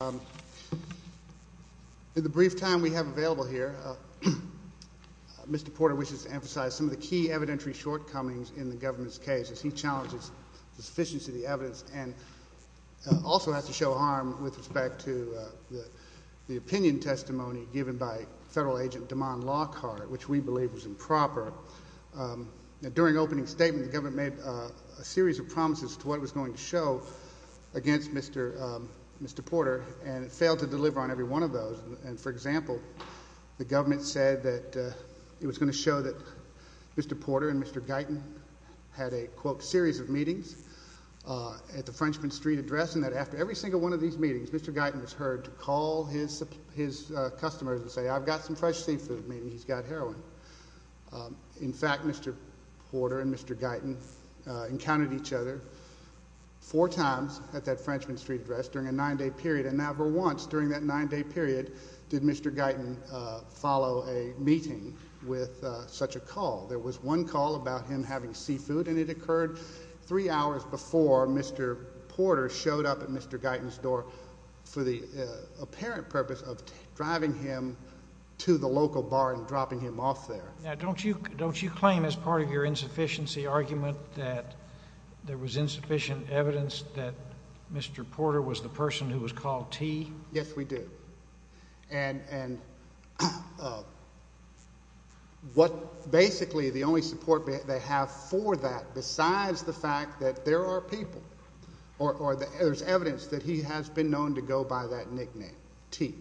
In the brief time we have available here, Mr. Porter wishes to emphasize some of the key evidentiary shortcomings in the government's case, as he challenges the sufficiency of the evidence and also has to show harm with respect to the opinion testimony given by federal agent DeMond Lockhart, which we believe was improper. During opening statement, the government made a series of promises to what it was going to show against Mr. Porter, and it failed to deliver on every one of those. For example, the government said that it was going to show that Mr. Porter and Mr. Guyton had a, quote, series of meetings at the Frenchman Street address, and that after every single one of these meetings, Mr. Guyton was heard to call his customers and say, I've got some fresh seafood. Maybe he's got heroin. In fact, Mr. Porter and Mr. Guyton encountered each other four times at that Frenchman Street address during a nine-day period, and never once during that nine-day period did Mr. Guyton follow a meeting with such a call. There was one call about him having seafood, and it occurred three hours before Mr. Porter showed up at Mr. Guyton's door for the apparent purpose of driving him to the local bar and getting off there. Now, don't you claim, as part of your insufficiency argument, that there was insufficient evidence that Mr. Porter was the person who was called T? Yes, we do. And what basically the only support they have for that, besides the fact that there are people or there's evidence that he has been known to go by that nickname, T,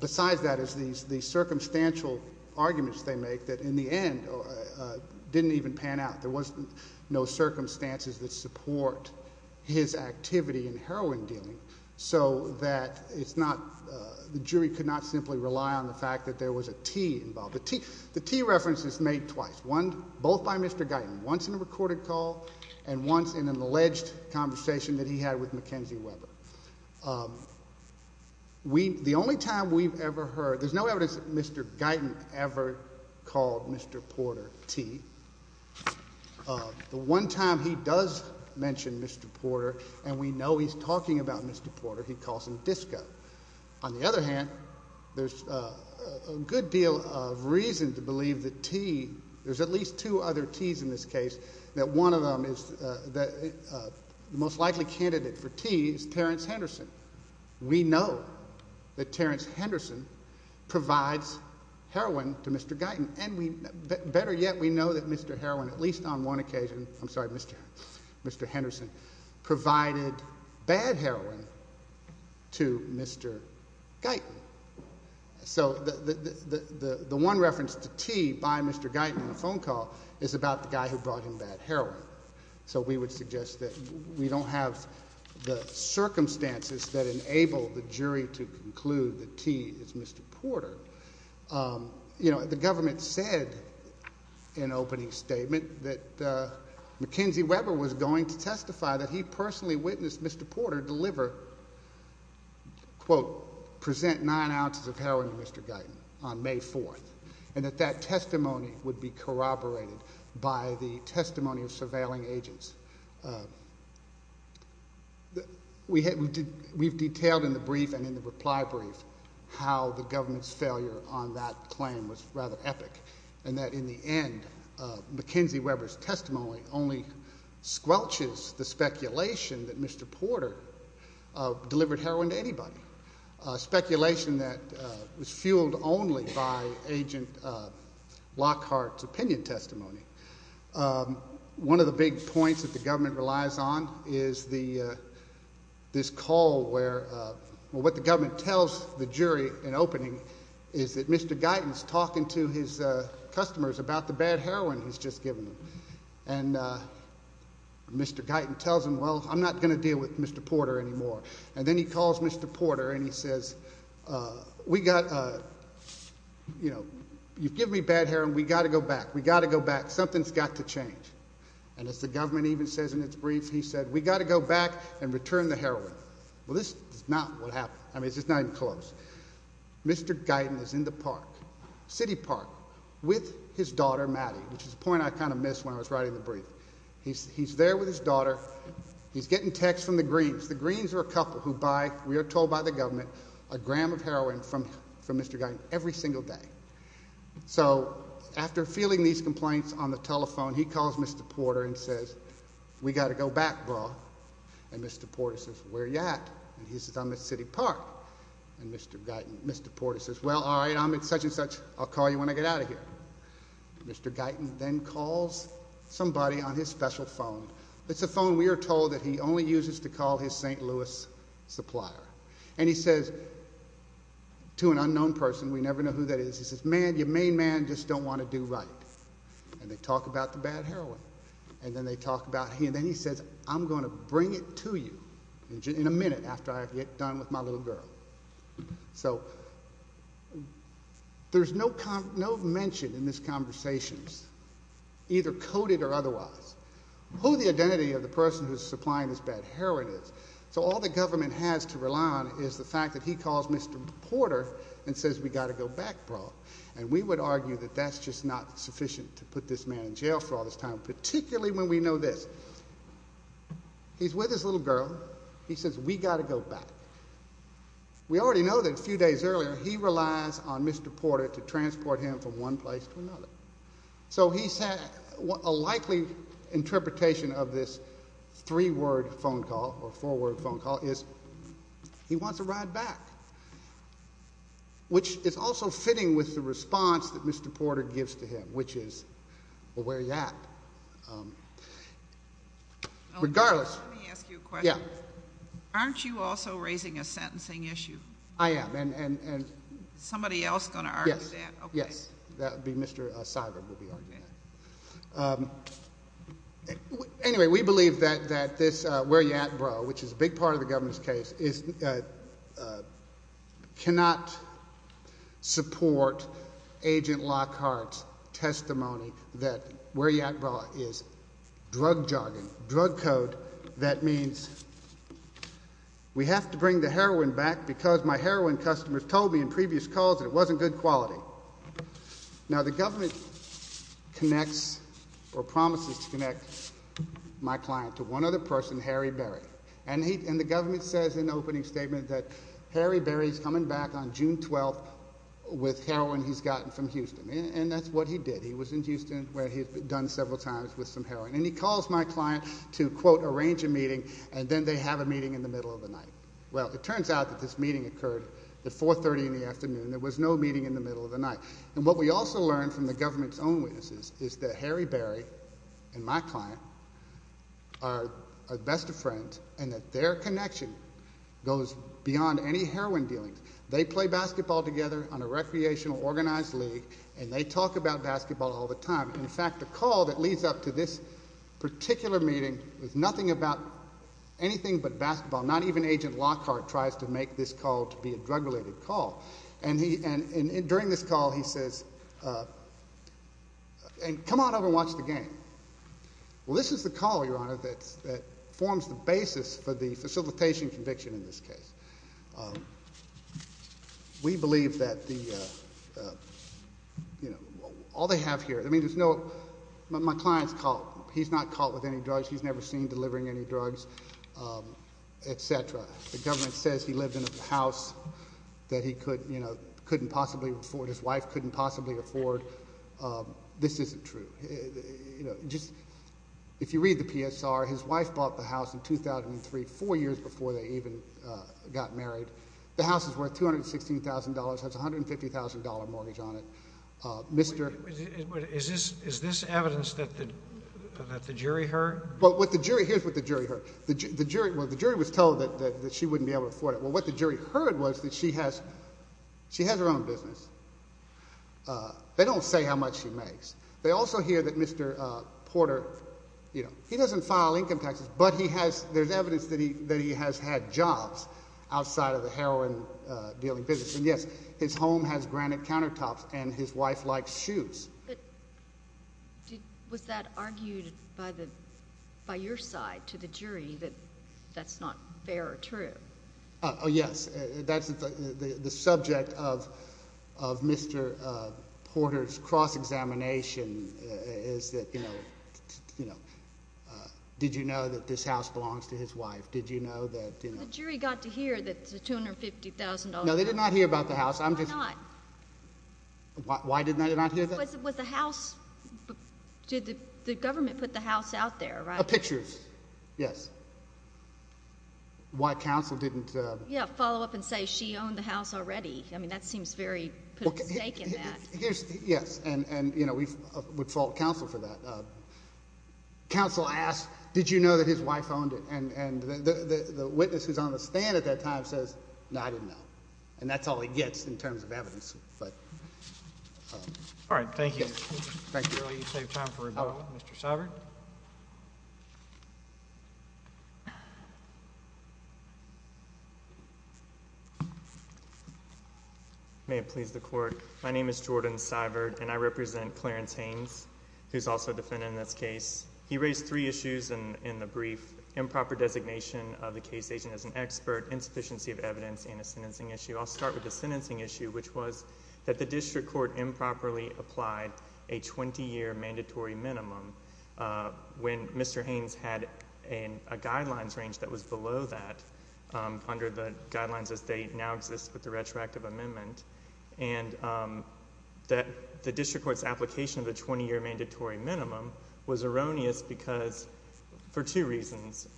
besides that these circumstantial arguments they make that, in the end, didn't even pan out. There was no circumstances that support his activity in heroin dealing, so that the jury could not simply rely on the fact that there was a T involved. The T reference is made twice, both by Mr. Guyton, once in a recorded call and once in an alleged conversation that he had with Mackenzie Weber. The only time we've ever heard, there's no evidence that Mr. Guyton ever called Mr. Porter T. The one time he does mention Mr. Porter, and we know he's talking about Mr. Porter, he calls him Disco. On the other hand, there's a good deal of reason to believe that T, there's at least two other T's in this case, that one of them is the most likely candidate for T is Terrence Henderson. We know that Terrence Henderson provides heroin to Mr. Guyton, and better yet, we know that Mr. Heroin, at least on one occasion, I'm sorry, Mr. Henderson, provided bad heroin to Mr. Guyton. So, the one reference to T by Mr. Guyton in the phone call is about the guy who brought him bad heroin. So we would suggest that we don't have the circumstances that enable the jury to conclude that T is Mr. Porter. You know, the government said in opening statement that Mackenzie Weber was going to testify that he personally witnessed Mr. Porter deliver, quote, present nine ounces of heroin to Mr. Guyton on May 4th, and that that testimony would be corroborated by the testimony of surveilling agents. We've detailed in the brief and in the reply brief how the government's failure on that claim was rather epic, and that in the end, Mackenzie Weber's testimony only squelches the speculation that Mr. Porter delivered heroin to anybody, a speculation that was fueled only by Agent Lockhart's opinion testimony. One of the big points that the government relies on is this call where, well, what the government tells the jury in opening is that Mr. Guyton's talking to his customers about the bad heroin he's just given them. And Mr. Guyton tells them, well, I'm not going to deal with Mr. Porter anymore. And then he calls Mr. Porter and he says, we got, you know, you've given me bad heroin. We got to go back. We got to go back. Something's got to change. And as the government even says in its brief, he said, we got to go back and return the heroin. Well, this is not what happened. I mean, it's just not even close. Mr. Guyton is in the park, City Park, with his daughter, Maddie, which is a point I kind of miss when I was writing the brief. He's there with his daughter. He's getting texts from the Greens. The Greens are a couple who buy, we are told by the government, a gram of heroin from Mr. Guyton every single day. So after feeling these complaints on the telephone, he calls Mr. Porter and says, we got to go back, bro. And Mr. Porter says, where you at? And he says, I'm at City Park. And Mr. Guyton, Mr. Porter says, well, all right, I'm at such and such. I'll call you when I get out of here. Mr. Guyton then calls somebody on his special phone. It's a phone we are told that he only uses to call his St. Louis supplier. And he says to an unknown person, we never know who that is, he says, man, your main man just don't want to do right. And they talk about the bad heroin. And then they talk about, and then he says, I'm going to bring it to you in a minute after I get done with my little girl. So there's no mention in this conversation, either coded or otherwise, who the identity of the person who's supplying this bad heroin is. So all the government has to rely on is the fact that he calls Mr. Porter and says, we got to go back, bro. And we would argue that that's just not sufficient to put this man in jail for all this time, particularly when we know this. He's with his little girl. He says, we got to go back. We already know that a few days earlier, he relies on Mr. Porter to transport him from one place to another. So he said, a likely interpretation of this three word phone call or four word phone call is he wants to ride back, which is also fitting with the response that Mr. Porter gives to him, which is, well, where are you at? Regardless, aren't you also raising a sentencing issue? I am. Is somebody else going to argue that? Yes. Yes. That would be Mr. Seibert. Anyway, we believe that this where you at, bro, which is a big part of the government's case, cannot support Agent Lockhart's testimony that where you at, bro, is drug jargon, drug code that means we have to bring the heroin back because my heroin customers told me in previous calls that it wasn't good quality. Now the government connects or promises to connect my client to one other person, Harry Berry. And the government says in the opening statement that Harry Berry is coming back on June 12th with heroin he's gotten from Houston. And that's what he did. He was in Houston where he had been done several times with some heroin. And he calls my client to, quote, arrange a meeting, and then they have a meeting in the middle of the night. Well, it turns out that this meeting occurred at 4.30 in the afternoon. There was no meeting in the middle of the night. And what we also learned from the government's own witnesses is that Harry Berry and my client are best of friends and that their connection goes beyond any heroin dealings. They play basketball together on a recreational organized league, and they talk about basketball all the time. In fact, the call that leads up to this particular meeting was nothing about anything but basketball. Not even Agent Lockhart tries to make this call to be a drug-related call. And during this call, he says, and come on over and watch the game. Well, this is the call, Your Honor, that forms the basis for the facilitation conviction in this case. We believe that the, you know, all they have here, I mean, there's no, my client's caught, he's not caught with any drugs, he's never seen delivering any drugs, et cetera. The government says he lived in a house that he couldn't possibly afford, his wife couldn't possibly afford. This isn't true. You know, just, if you read the PSR, his wife bought the house in 2003, four years before they even got married. The house is worth $216,000, has a $150,000 mortgage on it. Mr. Is this evidence that the jury heard? Well, what the jury, here's what the jury heard. The jury, well, the jury was told that she wouldn't be able to afford it. Well, what the jury heard was that she has, she has her own business. They don't say how much she makes. They also hear that Mr. Porter, you know, he doesn't file income taxes, but he has, there's evidence that he, that he has had jobs outside of the heroin dealing business. And yes, his home has granite countertops and his wife likes shoes. Was that argued by the, by your side to the jury that that's not fair or true? Oh yes. That's, that's the subject of, of Mr. Porter's cross-examination is that, you know, you know, did you know that this house belongs to his wife? Did you know that, you know? The jury got to hear that it's a $250,000. No, they did not hear about the house. I'm just. Why not? Why, why did they not hear that? Was it, was the house, did the government put the house out there, right? Pictures. Yes. And that's why counsel didn't follow up and say, she owned the house already. I mean, that seems very, yes. And you know, we would fault counsel for that. Counsel asked, did you know that his wife owned it? And the witness who's on the stand at that time says, no, I didn't know. And that's all he gets in terms of evidence, but all right. Thank you. Thank you. I'm going to let you save time for rebuttal. Mr. Seibert. May it please the court, my name is Jordan Seibert and I represent Clarence Haynes, who's also defending this case. He raised three issues in the brief. Improper designation of the case agent as an expert, insufficiency of evidence, and a sentencing issue. I'll start with the sentencing issue, which was that the district court improperly applied a 20-year mandatory minimum when Mr. Haynes had a guidelines range that was below that under the guidelines as they now exist with the retroactive amendment. And that the district court's application of the 20-year mandatory minimum was erroneous because for two reasons.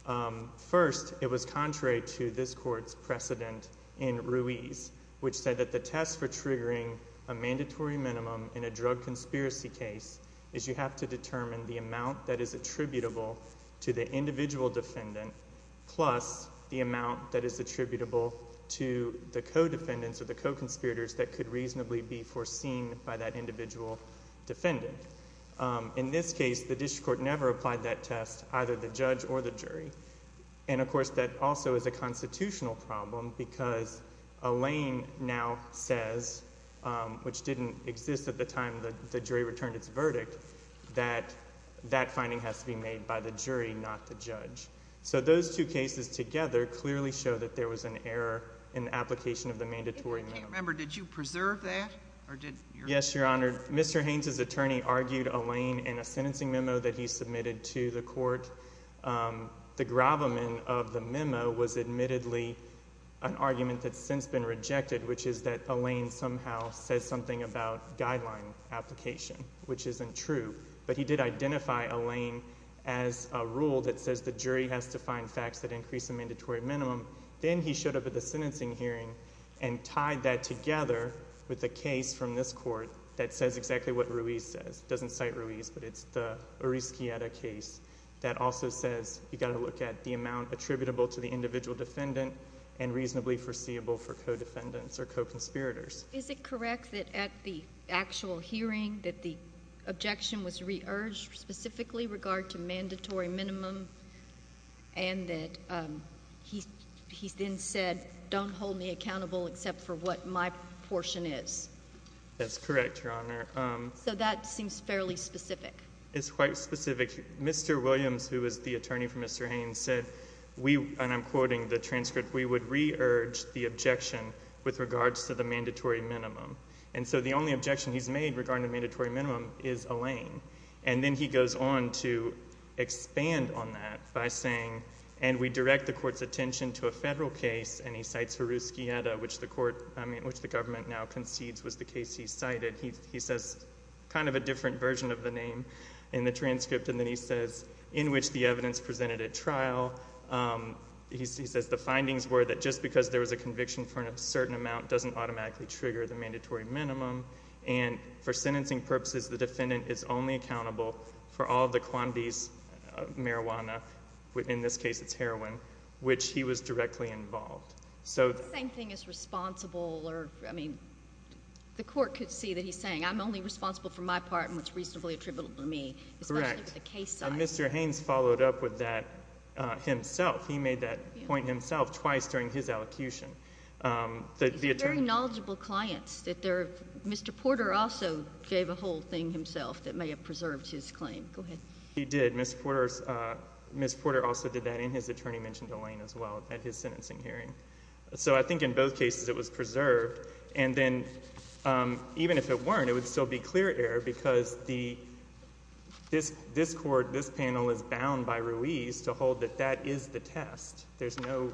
First, it was contrary to this court's precedent in Ruiz, which said that the tests for triggering a mandatory minimum in a drug conspiracy case is you have to determine the amount that is attributable to the individual defendant plus the amount that is attributable to the co-defendants or the co-conspirators that could reasonably be foreseen by that individual defendant. In this case, the district court never applied that test, either the judge or the jury. And of course, that also is a constitutional problem because Alain now says, which didn't exist at the time the jury returned its verdict, that that finding has to be made by the jury, not the judge. So those two cases together clearly show that there was an error in the application of the mandatory minimum. I can't remember. Did you preserve that? Yes, Your Honor. Mr. Haynes' attorney argued Alain in a sentencing memo that he submitted to the court. The gravamen of the memo was admittedly an argument that's since been rejected, which is that Alain somehow says something about guideline application, which isn't true. But he did identify Alain as a rule that says the jury has to find facts that increase the mandatory minimum. Then he showed up at the sentencing hearing and tied that together with a case from this court that says exactly what Ruiz says. It doesn't cite Ruiz, but it's the Urizquieta case that also says you've got to look at the amount attributable to the individual defendant and reasonably foreseeable for co-defendants or co-conspirators. Is it correct that at the actual hearing that the objection was re-urged specifically regard to mandatory minimum and that he then said, don't hold me accountable except for what my portion is? That's correct, Your Honor. So that seems fairly specific. It's quite specific. Mr. Williams, who is the attorney for Mr. Haynes, said we, and I'm quoting the transcript, we would re-urge the objection with regards to the mandatory minimum. And so the only objection he's made regarding the mandatory minimum is Alain. And then he goes on to expand on that by saying, and we direct the court's attention to a federal case, and he cites Ruizquieta, which the government now concedes was the case he cited. He says kind of a different version of the name in the transcript, and then he says, in which the evidence presented at trial, he says the findings were that just because there was a conviction for a certain amount doesn't automatically trigger the mandatory minimum, and for sentencing purposes, the defendant is only accountable for all the quantities of marijuana, in this case it's heroin, which he was directly involved. The same thing as responsible or, I mean, the court could see that he's saying I'm only responsible for my part and what's reasonably attributable to me, especially with the case size. Correct. And Mr. Haynes followed up with that himself. He made that point himself twice during his allocution. They're very knowledgeable clients. Mr. Porter also gave a whole thing himself that may have preserved his claim. Go ahead. He did. And Ms. Porter also did that in his attorney mentioned Elaine as well at his sentencing hearing. So I think in both cases it was preserved. And then even if it weren't, it would still be clear error because this court, this panel is bound by Ruiz to hold that that is the test. There's no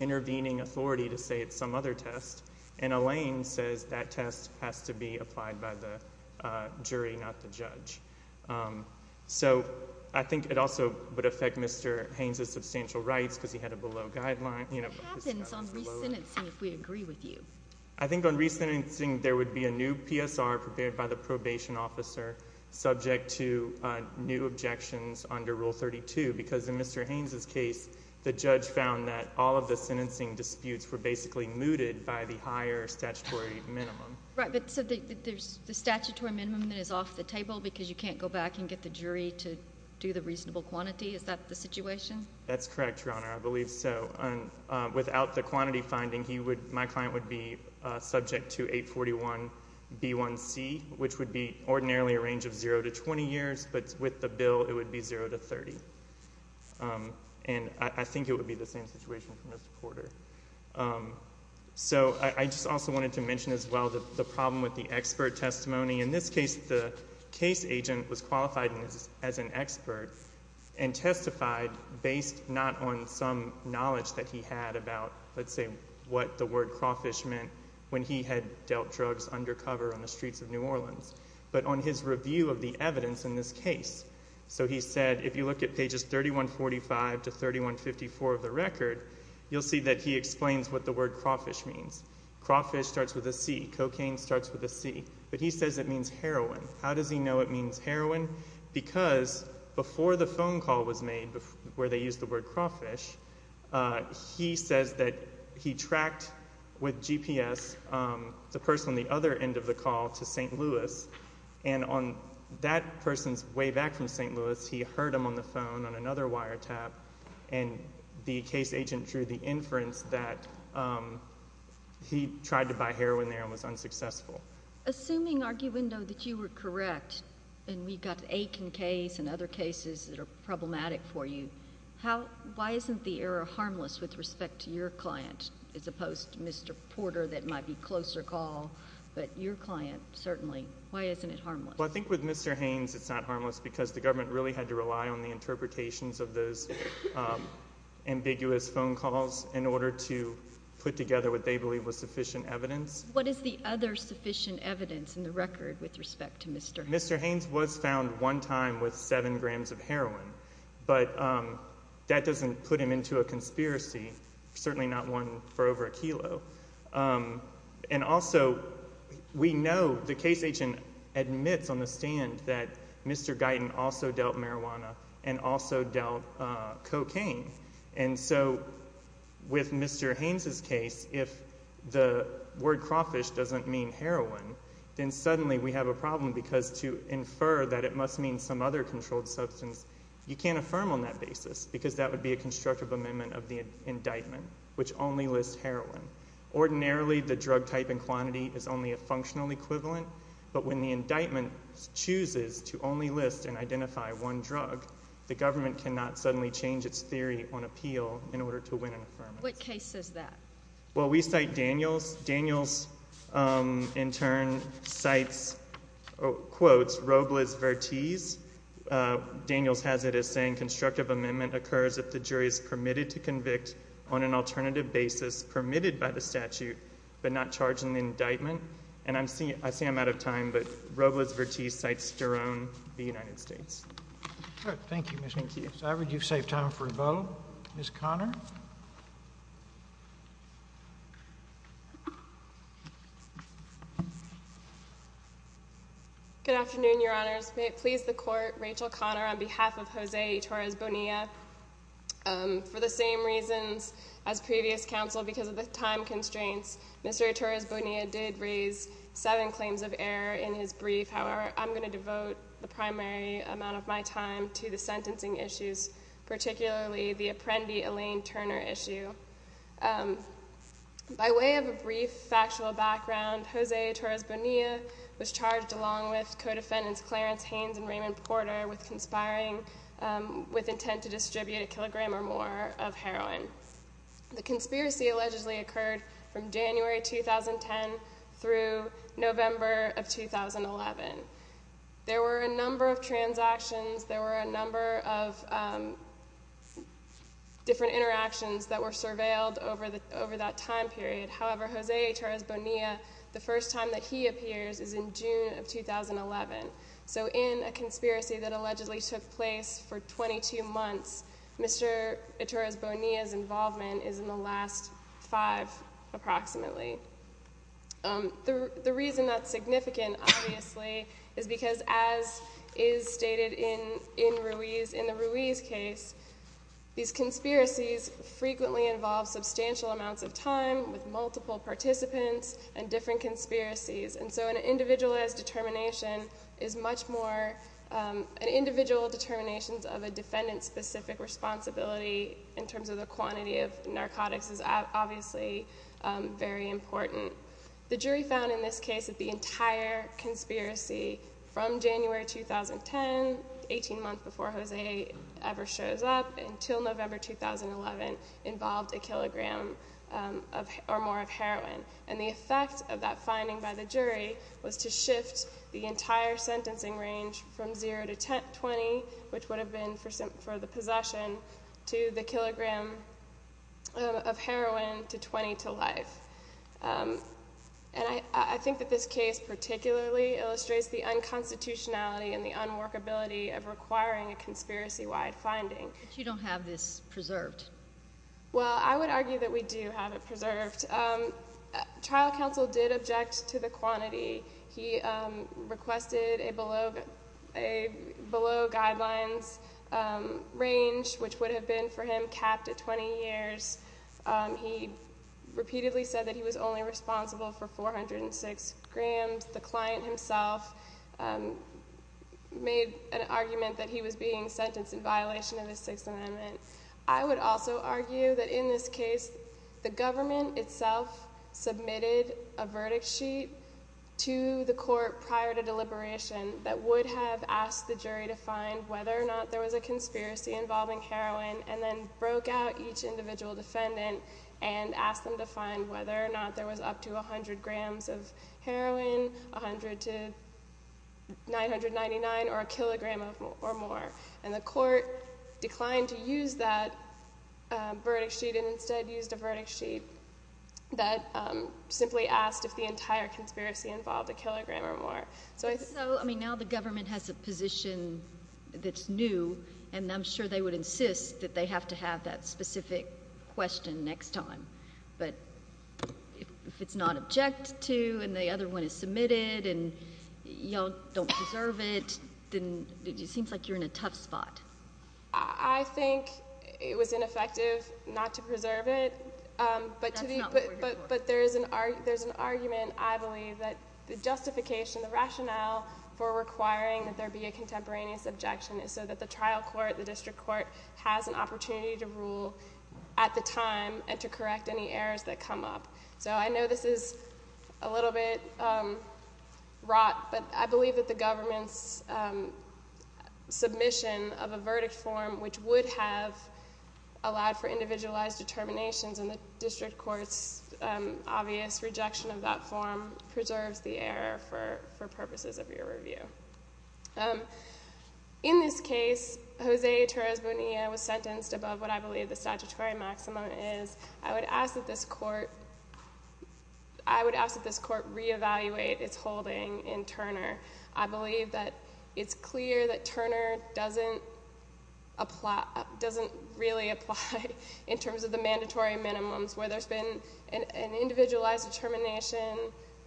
intervening authority to say it's some other test, and Elaine says that test has to be applied by the jury, not the judge. So I think it also would affect Mr. Haynes' substantial rights because he had a below guideline. It happens on resentencing if we agree with you. I think on resentencing there would be a new PSR prepared by the probation officer subject to new objections under Rule 32 because in Mr. Haynes' case the judge found that all of the sentencing disputes were basically mooted by the higher statutory minimum. Right. But so there's the statutory minimum that is off the table because you can't go back and get the jury to do the reasonable quantity. Is that the situation? That's correct, Your Honor. I believe so. Without the quantity finding, my client would be subject to 841B1C, which would be ordinarily a range of 0 to 20 years, but with the bill it would be 0 to 30. And I think it would be the same situation for Mr. Porter. So I just also wanted to mention as well the problem with the expert testimony. In this case, the case agent was qualified as an expert and testified based not on some knowledge that he had about, let's say, what the word crawfish meant when he had dealt drugs undercover on the streets of New Orleans, but on his review of the evidence in this case. So he said, if you look at pages 3145 to 3154 of the record, you'll see that he explains what the word crawfish means. Crawfish starts with a C. Cocaine starts with a C. But he says it means heroin. How does he know it means heroin? Because before the phone call was made where they used the word crawfish, he says that he tracked with GPS the person on the other end of the call to St. Louis. And on that person's way back from St. Louis, he heard him on the phone on another wire tap, and the case agent drew the inference that he tried to buy heroin there and was unsuccessful. Assuming, Arguendo, that you were correct, and we've got the Aiken case and other cases that are problematic for you, why isn't the error harmless with respect to your client as opposed to Mr. Porter that might be a closer call, but your client, certainly, why isn't it harmless? Well, I think with Mr. Haynes it's not harmless because the government really had to rely on the interpretations of those ambiguous phone calls in order to put together what they believe was sufficient evidence. What is the other sufficient evidence in the record with respect to Mr. Haynes? Mr. Haynes was found one time with seven grams of heroin, but that doesn't put him into a conspiracy. Certainly not one for over a kilo. And also, we know, the case agent admits on the stand that Mr. Guyton also dealt marijuana and also dealt cocaine. And so, with Mr. Haynes' case, if the word crawfish doesn't mean heroin, then suddenly we have a problem because to infer that it must mean some other controlled substance, you can't affirm on that basis because that would be a constructive amendment of the indictment, which only lists heroin. Ordinarily, the drug type and quantity is only a functional equivalent, but when the indictment chooses to only list and identify one drug, the government cannot suddenly change its theory on appeal in order to win an affirmance. What case is that? Well, we cite Daniels. Daniels, in turn, cites, quotes, Robles-Vertiz. Daniels has it as saying, constructive amendment occurs if the jury is permitted to convict on an alternative basis permitted by the statute, but not charged in the indictment. And I'm seeing, I see I'm out of time, but Robles-Vertiz cites Sterone v. United States. All right. Thank you, Mr. Haynes. Thank you. Ms. Ivory, you've saved time for a vote. Ms. Conner? Good afternoon, Your Honors. May it please the Court, Rachel Conner on behalf of Jose Ytorres Bonilla, for the same reasons as previous counsel, because of the time constraints, Mr. Ytorres Bonilla did raise seven claims of error in his brief, however, I'm going to devote the primary amount of my time to the sentencing issues, particularly the Apprendi Elaine Turner issue. By way of a brief factual background, Jose Ytorres Bonilla was charged along with co-defendants Clarence Haynes and Raymond Porter with conspiring with intent to distribute a kilogram or more of heroin. The conspiracy allegedly occurred from January 2010 through November of 2011. There were a number of transactions, there were a number of different interactions that were surveilled over that time period, however, Jose Ytorres Bonilla, the first time that he appears is in June of 2011. So in a conspiracy that allegedly took place for 22 months, Mr. Ytorres Bonilla's involvement is in the last five, approximately. The reason that's significant, obviously, is because as is stated in the Ruiz case, these conspiracies frequently involve substantial amounts of time with multiple participants and different conspiracies, and so an individualized determination is much more, an individual determination of a defendant's specific responsibility in terms of the quantity of narcotics is obviously very important. The jury found in this case that the entire conspiracy from January 2010, 18 months before Jose ever shows up, until November 2011 involved a kilogram or more of heroin, and the effect of that finding by the jury was to shift the entire sentencing range from 0 to 20, which is heroin, to 20 to life. And I think that this case particularly illustrates the unconstitutionality and the unworkability of requiring a conspiracy-wide finding. You don't have this preserved. Well, I would argue that we do have it preserved. Trial counsel did object to the quantity. He requested a below guidelines range, which would have been, for him, capped at 20 years. He repeatedly said that he was only responsible for 406 grams. The client himself made an argument that he was being sentenced in violation of the Sixth Amendment. I would also argue that in this case, the government itself submitted a verdict sheet to the court prior to deliberation that would have asked the jury to find whether or not there was a conspiracy involving heroin, and then broke out each individual defendant and asked them to find whether or not there was up to 100 grams of heroin, 100 to 999, or a kilogram or more. And the court declined to use that verdict sheet and instead used a verdict sheet that simply asked if the entire conspiracy involved a kilogram or more. So, I mean, now the government has a position that's new, and I'm sure they would insist that they have to have that specific question next time. But if it's not objected to, and the other one is submitted, and y'all don't preserve it, then it seems like you're in a tough spot. I think it was ineffective not to preserve it, but there's an argument, I believe, that the justification, the rationale for requiring that there be a contemporaneous objection is so that the trial court, the district court, has an opportunity to rule at the time and to correct any errors that come up. So I know this is a little bit wrought, but I believe that the government's submission of a verdict form, which would have allowed for individualized determinations, and the purposes of your review. In this case, Jose Torres Bonilla was sentenced above what I believe the statutory maximum is. I would ask that this court re-evaluate its holding in Turner. I believe that it's clear that Turner doesn't really apply in terms of the mandatory minimums, where there's been an individualized determination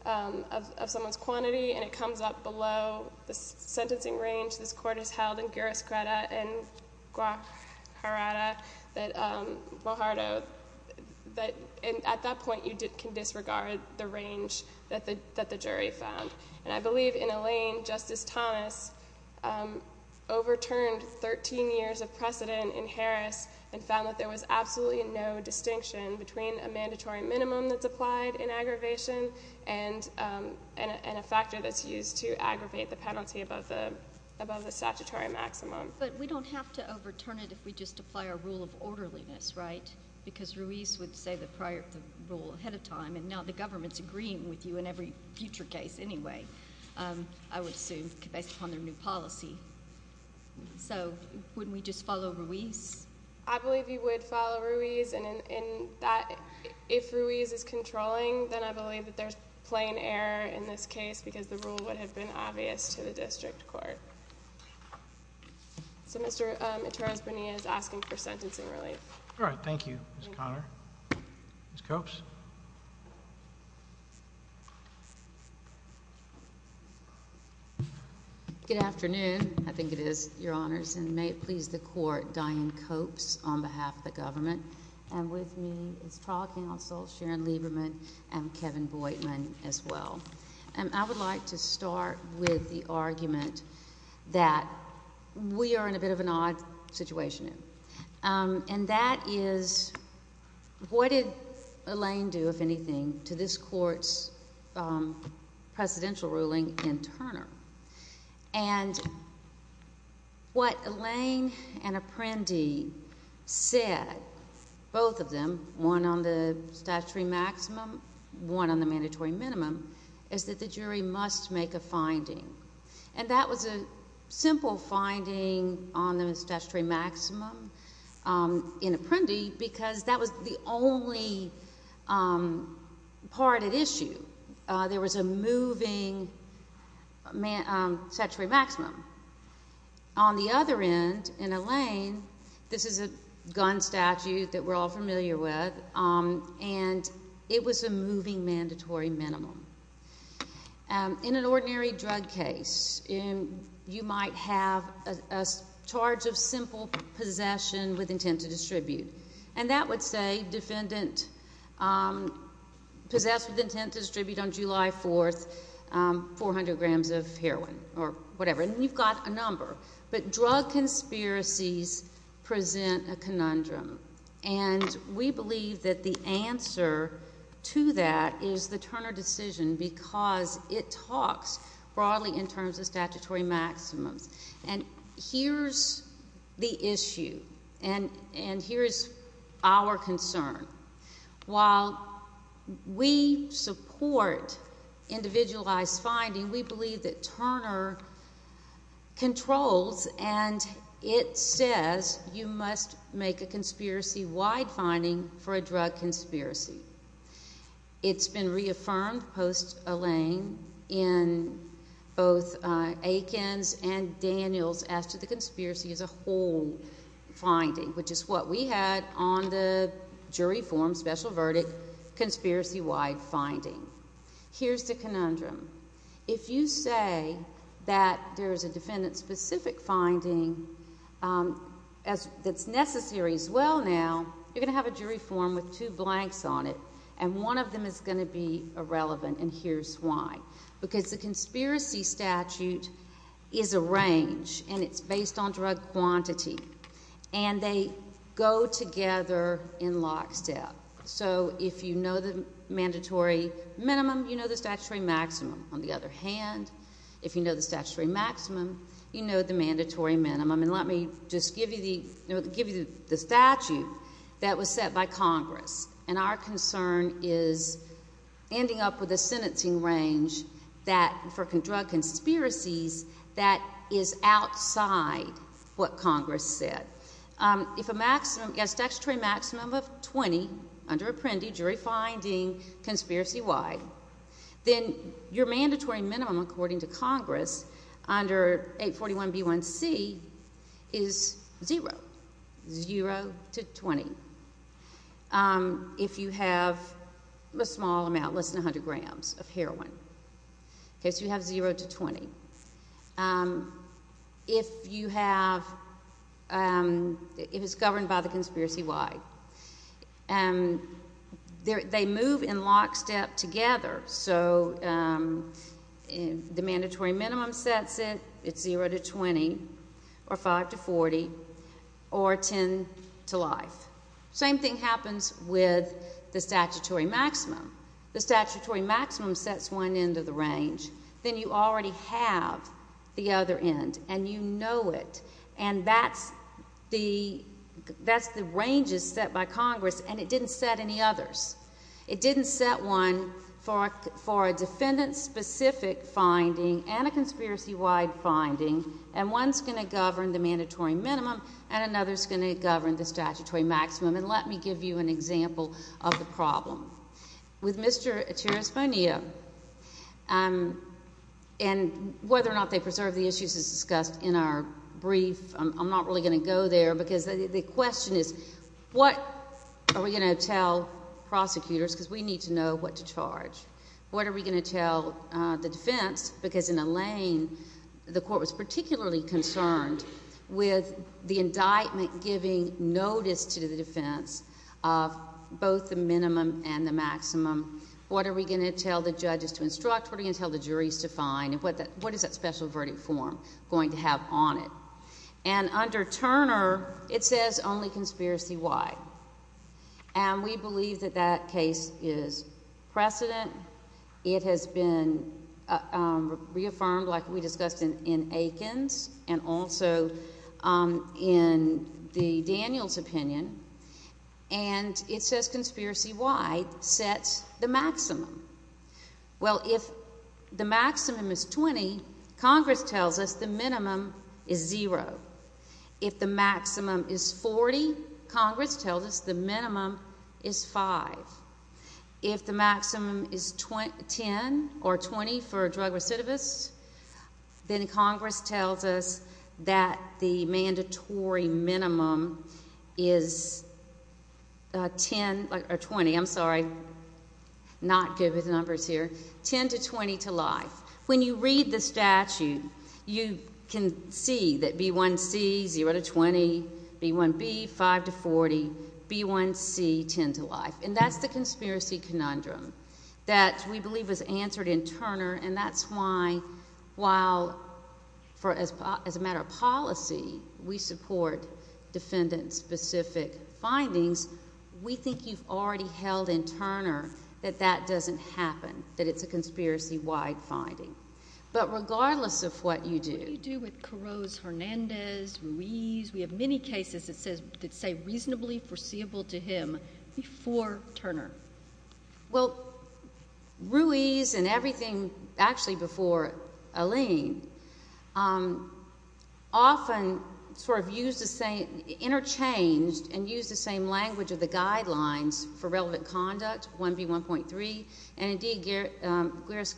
of someone's quantity, and it comes up below the sentencing range this court has held in Guerras-Creda and Guajarato, and at that point, you can disregard the range that the jury found. And I believe in Alain, Justice Thomas overturned 13 years of precedent in Harris and found that there was absolutely no distinction between a mandatory minimum that's applied in aggravation and a factor that's used to aggravate the penalty above the statutory maximum. But we don't have to overturn it if we just apply our rule of orderliness, right? Because Ruiz would say the prior rule ahead of time, and now the government's agreeing with you in every future case anyway, I would assume, based upon their new policy. So wouldn't we just follow Ruiz? I believe you would follow Ruiz, and if Ruiz is controlling, then I believe that there's plain error in this case, because the rule would have been obvious to the district court. So Mr. Eterrez-Bonilla is asking for sentencing relief. All right. Thank you, Ms. Conner. Ms. Copes? Good afternoon. I think it is your honors, and may it please the Court, Dianne Copes, for a moment of silence on behalf of the government, and with me is trial counsel Sharon Lieberman and Kevin Boydman as well. And I would like to start with the argument that we are in a bit of an odd situation, and that is, what did Elaine do, if anything, to this Court's presidential ruling in Turner? And what Elaine and Apprendi said, both of them, one on the statutory maximum, one on the mandatory minimum, is that the jury must make a finding. And that was a simple finding on the statutory maximum in Apprendi, because that was the statutory maximum. On the other end, in Elaine, this is a gun statute that we're all familiar with, and it was a moving mandatory minimum. In an ordinary drug case, you might have a charge of simple possession with intent to distribute. And that would say, defendant possessed with intent to distribute on July 4th 400 grams of heroin, or whatever, and you've got a number. But drug conspiracies present a conundrum. And we believe that the answer to that is the Turner decision, because it talks broadly in terms of statutory maximums. And here's the issue, and here's our concern. While we support individualized finding, we believe that Turner controls, and it says you must make a conspiracy-wide finding for a drug conspiracy. It's been reaffirmed post-Elaine in both Aikens and Daniels as to the conspiracy as a whole finding, which is what we had on the jury form, special verdict, conspiracy-wide finding. Here's the conundrum. If you say that there is a defendant-specific finding that's necessary as well now, you're going to have a jury form with two blanks on it, and one of them is going to be irrelevant, and here's why. Because the conspiracy statute is a range, and it's based on drug quantity. And they go together in lockstep. So if you know the mandatory minimum, you know the statutory maximum. On the other hand, if you know the statutory maximum, you know the mandatory minimum. And let me just give you the statute that was set by Congress, and our concern is ending up with a sentencing range for drug conspiracies that is outside what Congress said. If a maximum, yes, statutory maximum of 20 under Apprendi, jury finding, conspiracy-wide, then your mandatory minimum, according to Congress, under 841B1C, is zero, zero to 20. If you have a small amount, less than 100 grams of heroin, okay, so you have zero to 20. If you have, if it's governed by the conspiracy-wide, they move in lockstep together, so the mandatory minimum sets it, it's zero to 20, or 5 to 40, or 10 to life. Same thing happens with the statutory maximum. The statutory maximum sets one end of the range. Then you already have the other end, and you know it. And that's the range that's set by Congress, and it didn't set any others. It didn't set one for a defendant-specific finding and a conspiracy-wide finding, and one's going to govern the mandatory minimum, and another's going to govern the statutory maximum, and let me give you an example of the problem. With Mr. Echeres Bonilla, and whether or not they preserve the issues as discussed in our brief, I'm not really going to go there, because the question is, what are we going to tell prosecutors, because we need to know what to charge? What are we going to tell the defense, because in Alaine, the court was particularly concerned with the indictment giving notice to the defense of both the minimum and the maximum. What are we going to tell the judges to instruct? What are we going to tell the juries to find, and what is that special verdict form going to have on it? And under Turner, it says only conspiracy-wide, and we believe that that case is precedent it has been reaffirmed, like we discussed in Aikens, and also in the Daniels opinion, and it says conspiracy-wide sets the maximum. Well, if the maximum is 20, Congress tells us the minimum is zero. If the maximum is 40, Congress tells us the minimum is five. If the maximum is 10 or 20 for drug recidivists, then Congress tells us that the mandatory minimum is 10, or 20, I'm sorry, not good with numbers here, 10 to 20 to life. When you read the statute, you can see that B1C, zero to 20, B1B, five to 40, B1C, 10 to life, and that's the conspiracy conundrum that we believe was answered in Turner, and that's why while, as a matter of policy, we support defendant-specific findings, we think you've already held in Turner that that doesn't happen, that it's a conspiracy-wide finding. But regardless of what you do... We have many cases that say reasonably foreseeable to him before Turner. Well, Ruiz and everything, actually before Alleyne, often sort of used the same, interchanged and used the same language of the guidelines for relevant conduct, 1B1.3, and indeed, Guiris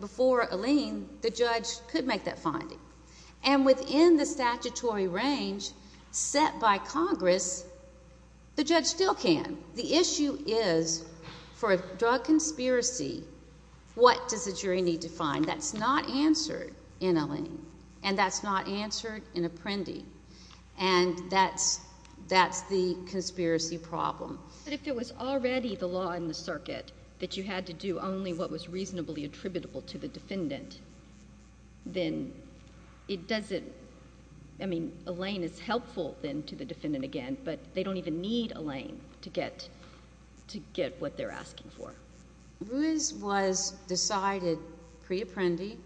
before Alleyne, the judge could make that finding. And within the statutory range set by Congress, the judge still can. The issue is for a drug conspiracy, what does the jury need to find? That's not answered in Alleyne, and that's not answered in Apprendi, and that's the conspiracy problem. But if it was already the law in the circuit that you had to do only what was reasonably attributable to the defendant, then it doesn't... I mean, Alleyne is helpful, then, to the defendant again, but they don't even need Alleyne to get what they're asking for. Ruiz was decided pre-Apprendi.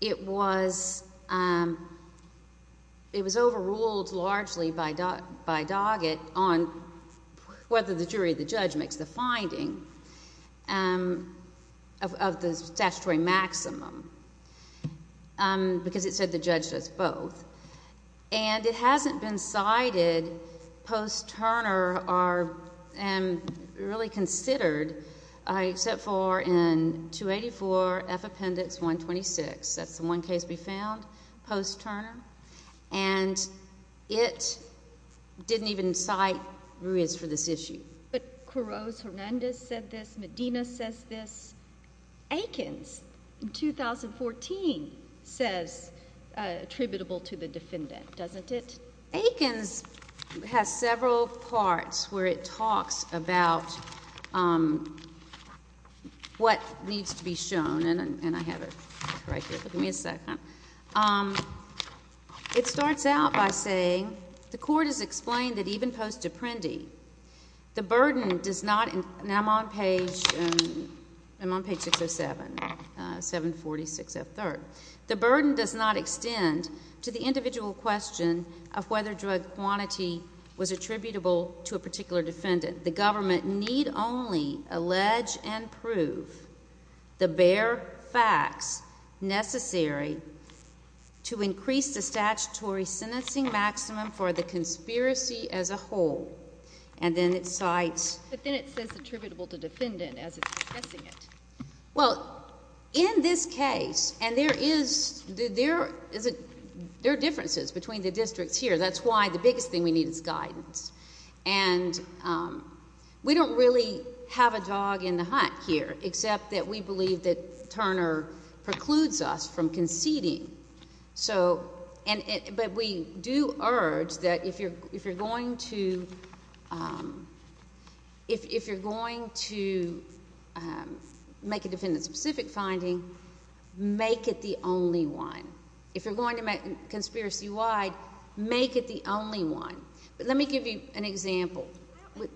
It was overruled largely by Doggett on whether the jury or the defendant should be held liable for this, of the statutory maximum, because it said the judge does both. And it hasn't been cited post-Turner, and really considered, except for in 284F Appendix 126. That's the one case we found post-Turner, and it didn't even cite Ruiz for this issue. But Coroz Hernandez said this. Medina says this. Aikens, in 2014, says attributable to the defendant, doesn't it? Aikens has several parts where it talks about what needs to be shown, and I have it right here. Give me a second. It starts out by saying, the court has explained that even post-Apprendi, the burden does not, now I'm on page, I'm on page 607, 746F3rd. The burden does not extend to the individual question of whether drug quantity was attributable to a particular defendant. The government need only allege and prove the bare facts necessary to increase the statutory sentencing maximum for the conspiracy as a whole. And then it cites. But then it says attributable to defendant as it's discussing it. Well, in this case, and there is, there are differences between the districts here. That's why the biggest thing we need is guidance. And we don't really have a dog in the hunt here except that we believe that Turner precludes us from conceding. So, and, but we do urge that if you're, if you're going to, if you're going to make a defendant-specific finding, make it the only one. If you're going to make, conspiracy-wide, make it the only one. But let me give you an example.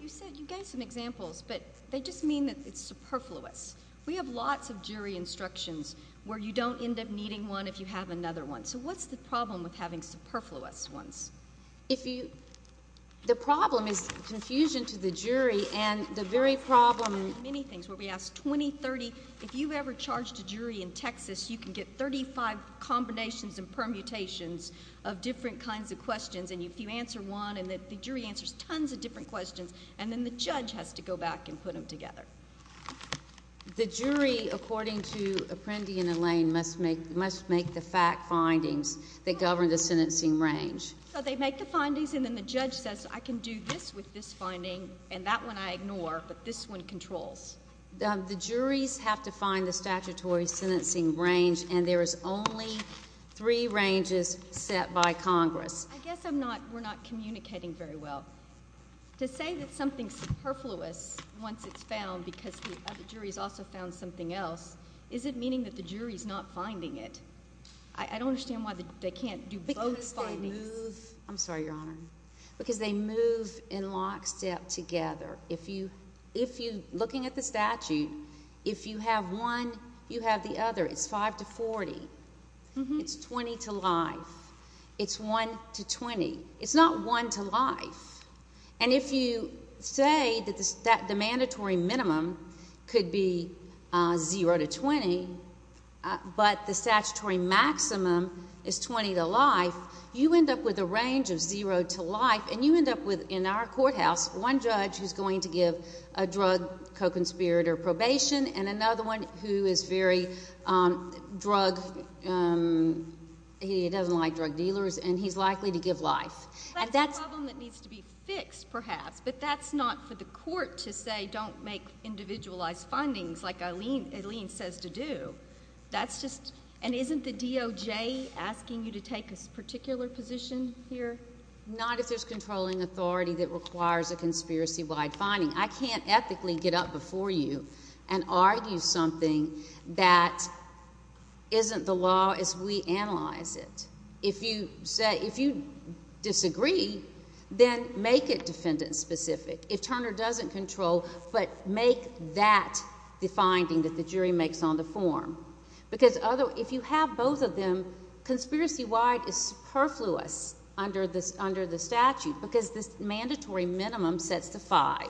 You said, you gave some examples, but they just mean that it's superfluous. We have lots of jury instructions where you don't end up needing one if you have another one. So what's the problem with having superfluous ones? If you, the problem is confusion to the jury, and the very problem — Many things, where we ask 20, 30, if you ever charged a jury in Texas, you can get 35 combinations and permutations of different kinds of questions, and if you answer one and the jury answers tons of different questions, and then the judge has to go back and put them together. The jury, according to Apprendi and Allain, must make, must make the fact findings that govern the sentencing range. So they make the findings, and then the judge says, I can do this with this finding, and that one I ignore, but this one controls. The juries have to find the statutory sentencing range, and there is only three ranges set by Congress. I guess I'm not, we're not communicating very well. To say that something's superfluous once it's found because the other jury's also found something else, is it meaning that the jury's not finding it? I don't understand why they can't do both findings. Because they move, I'm sorry, Your Honor, because they move in lockstep together. If you, if you, looking at the statute, if you have one, you have the other. It's 5 to 40. It's 20 to life. It's 1 to 20. It's not 1 to life. And if you say that the mandatory minimum could be 0 to 20, but the statutory maximum is 20 to life, you end up with a range of 0 to life, and you end up with, in our courthouse, one judge who's going to give a drug co-conspirator probation, and another one who is very drug, he doesn't like drug dealers, and he's likely to give life. That's a problem that needs to be fixed, perhaps, but that's not for the court to say, don't make individualized findings like Eileen says to do. That's just, and isn't the DOJ asking you to take a particular position here? Not if there's controlling authority that requires a conspiracy-wide finding. I can't ethically get up before you and argue something that isn't the law as we analyze it. If you say, if you disagree, then make it defendant-specific. If Turner doesn't control, but make that the finding that the jury makes on the form. Because if you have both of them, conspiracy-wide is superfluous under the statute, because this mandatory minimum sets the 5.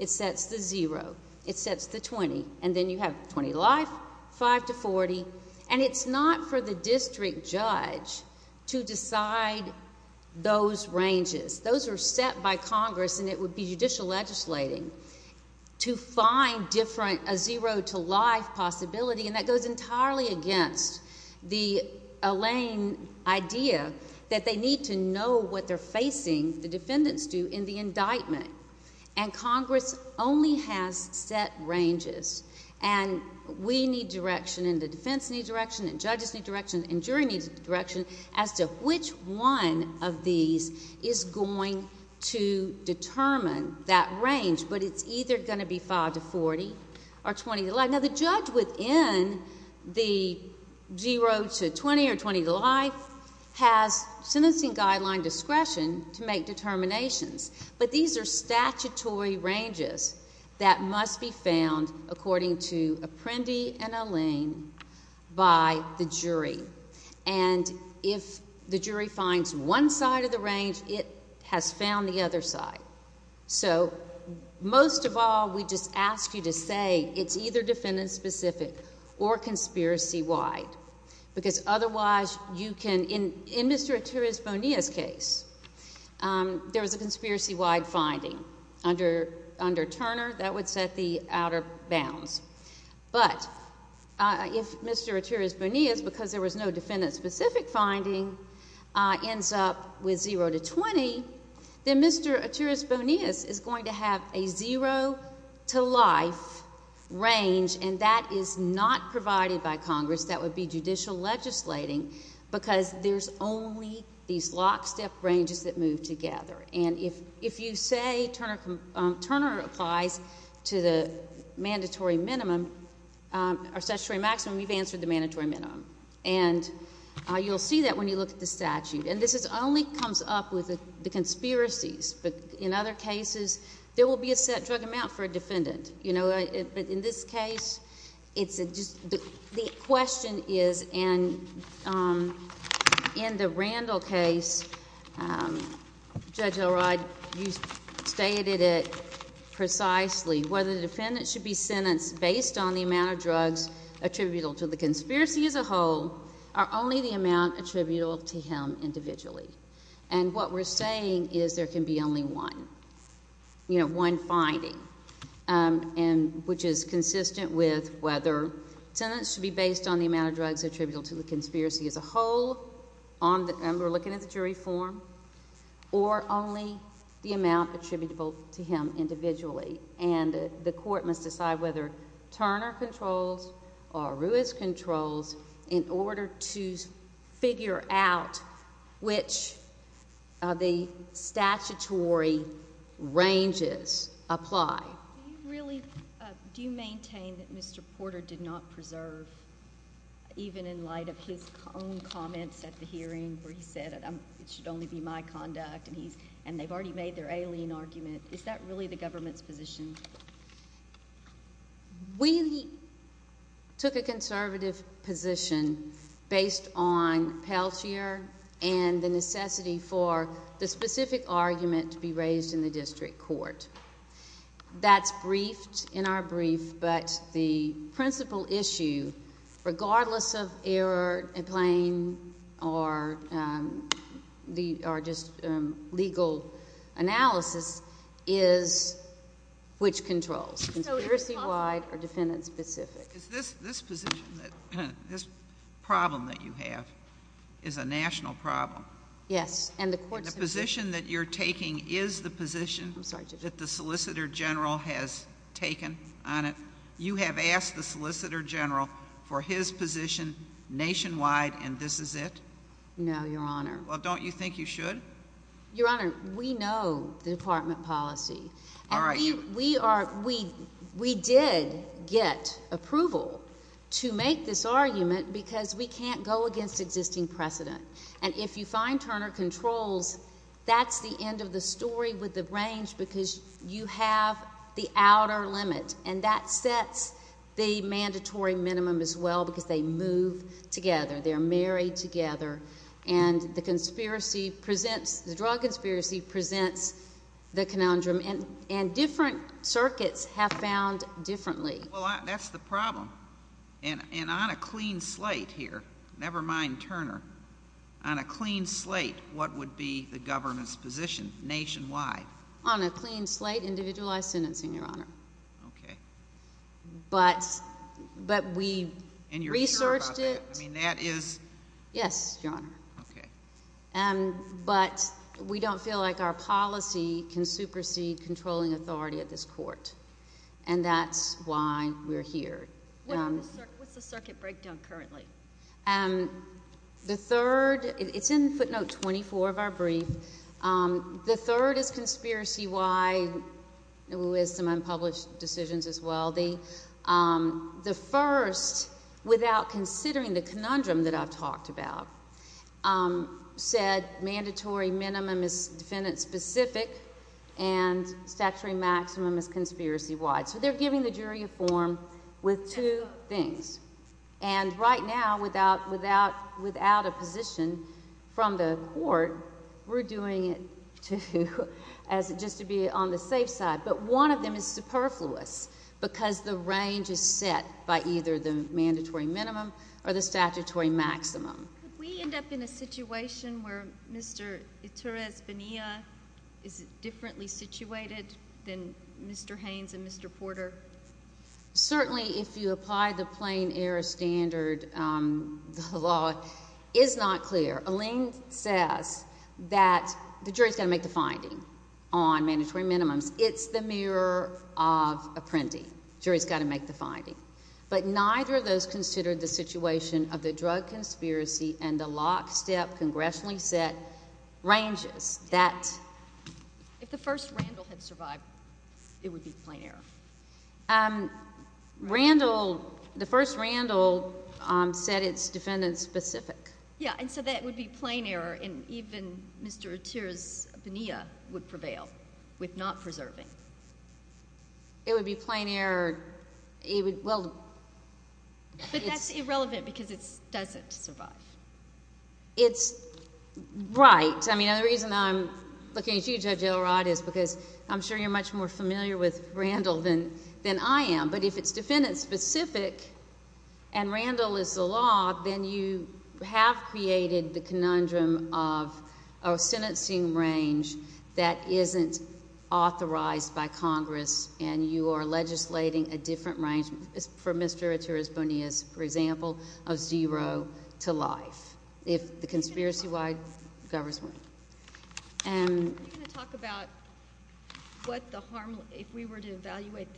It sets the 0. It sets the 20, and then you have 20 to life, 5 to 40, and it's not for the district judge to decide those ranges. Those are set by Congress, and it would be judicial legislating to find different, a 0 to life possibility, and that goes entirely against the Elaine idea that they need to know what they're facing the defendants do in the indictment. And Congress only has set ranges, and we need direction, and the defense needs direction, and judges need direction, and jury needs direction as to which one of these is going to determine that range. But it's either going to be 5 to 40 or 20 to life. Now, the judge within the 0 to 20 or 20 to life has sentencing guideline discretion to make determinations, but these are statutory ranges that must be found according to Apprendi and Elaine by the jury. And if the jury finds one side of the range, it has found the other side. So most of all, we just ask you to say it's either defendant-specific or conspiracy-wide, because otherwise you can, in Mr. Attiris Bonillas' case, there was a conspiracy-wide finding under Turner that would set the outer bounds. But if Mr. Attiris Bonillas, because there was no defendant-specific finding, ends up with 0 to 20, then Mr. Attiris Bonillas is going to have a 0 to life, and that is not provided by Congress. That would be judicial legislating, because there's only these lockstep ranges that move together. And if you say Turner applies to the mandatory minimum or statutory maximum, we've answered the mandatory minimum. And you'll see that when you look at the statute. And this only comes up with the conspiracies, but in other cases, there will be a set drug amount for a defendant. But in this case, the question is, and in the Randall case, Judge Elrod, you stated it precisely, whether the defendant should be sentenced based on the amount of drugs attributable to the conspiracy as a whole, or only the amount attributable to him individually. And what we're saying is there can be only one, you know, one finding, which is consistent with whether a sentence should be based on the amount of drugs attributable to the conspiracy as a whole, and we're looking at the jury form, or only the amount attributable to him individually. And the court must decide whether Turner controls or Ruiz controls in order to figure out which of the statutory ranges apply. Do you maintain that Mr. Porter did not preserve, even in light of his own comments at the hearing, where he said it should only be my conduct, and they've already made their alien argument, is that really the government's position? We took a conservative position based on Peltier and the necessity for the specific argument to be raised in the district court. That's briefed in our brief, but the principal issue, regardless of error, plain, or just legal analysis, is which controls, conspiracy-wide or defendant-specific. Is this position, this problem that you have, is a national problem? Yes, and the court's position... And the position that you're taking is the position that the Solicitor General has taken on it? You have asked the Solicitor General for his position nationwide, and this is it? No, Your Honor. Well, don't you think you should? Your Honor, we know the department policy. All right. We did get approval to make this argument because we can't go against existing precedent, and if you find Turner Controls, that's the end of the story with the range because you have the outer limit, and that sets the mandatory minimum as well because they move together. They're married together, and the drug conspiracy presents the conundrum, and different circuits have found differently. Well, that's the problem, and on a clean slate here, never mind Turner, on a clean slate, what would be the government's position nationwide? On a clean slate, individualized sentencing, Your Honor. Okay. But we researched it. I mean, that is... Yes, Your Honor. Okay. But we don't feel like our policy can supersede controlling authority at this court, and that's why we're here. What's the circuit breakdown currently? The third... It's in footnote 24 of our brief. The third is conspiracy-wide. It was some unpublished decisions as well. The first, without considering the conundrum that I've talked about, said mandatory minimum is defendant-specific and statutory maximum is conspiracy-wide, so they're giving the jury a form with two things, and right now without a position from the court, we're doing it just to be on the safe side, but one of them is superfluous because the range is set by either the mandatory minimum or the statutory maximum. Could we end up in a situation where Mr. Iturres-Benea is differently situated than Mr. Haynes and Mr. Porter? Certainly, if you apply the plain error standard, the law is not clear. Alene says that the jury's got to make the finding on mandatory minimums. It's the mirror of a printing. Jury's got to make the finding, but neither of those considered the situation of the drug conspiracy and the lockstep congressionally set ranges that... If the first Randall had survived, it would be plain error. Randall, the first defendant-specific. Yeah, and so that would be plain error, and even Mr. Iturres-Benea would prevail with not preserving. It would be plain error. Well... But that's irrelevant because it doesn't survive. It's... Right. I mean, the reason I'm looking at you, Judge Elrod, is because I'm sure you're much more familiar with Randall than I am, but if it's defendant-specific and Randall is the law, then you have created the conundrum of a sentencing range that isn't authorized by Congress, and you are legislating a different range for Mr. Iturres-Benea's, for example, of zero to life, if the conspiracy-wide government. Are you going to talk about what the harm... If we were to evaluate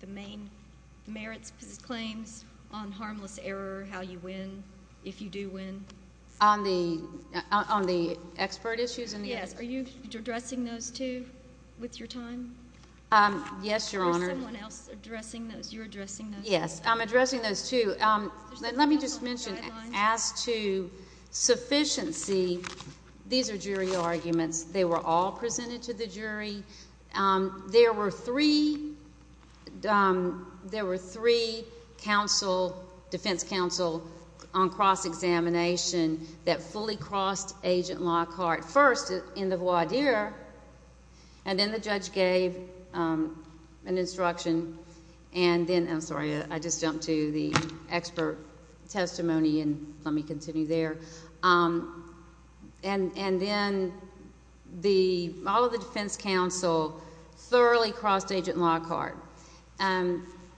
the main merits of claims on harmless error, how you win, if you do win? On the expert issues? Yes. Are you addressing those, too, with your time? Yes, Your Honor. Or is someone else addressing those? You're addressing those? Yes, I'm addressing those, too. Let me just mention, as to sufficiency, these are jury arguments. They were all presented to the jury. There were three... There were three defense counsel on cross-examination that fully crossed Agent Lockhart, first in the voir dire, and then the judge gave an instruction, and then... I'm sorry. I just jumped to the expert testimony, and let me continue there. Then all of the defense counsel thoroughly crossed Agent Lockhart.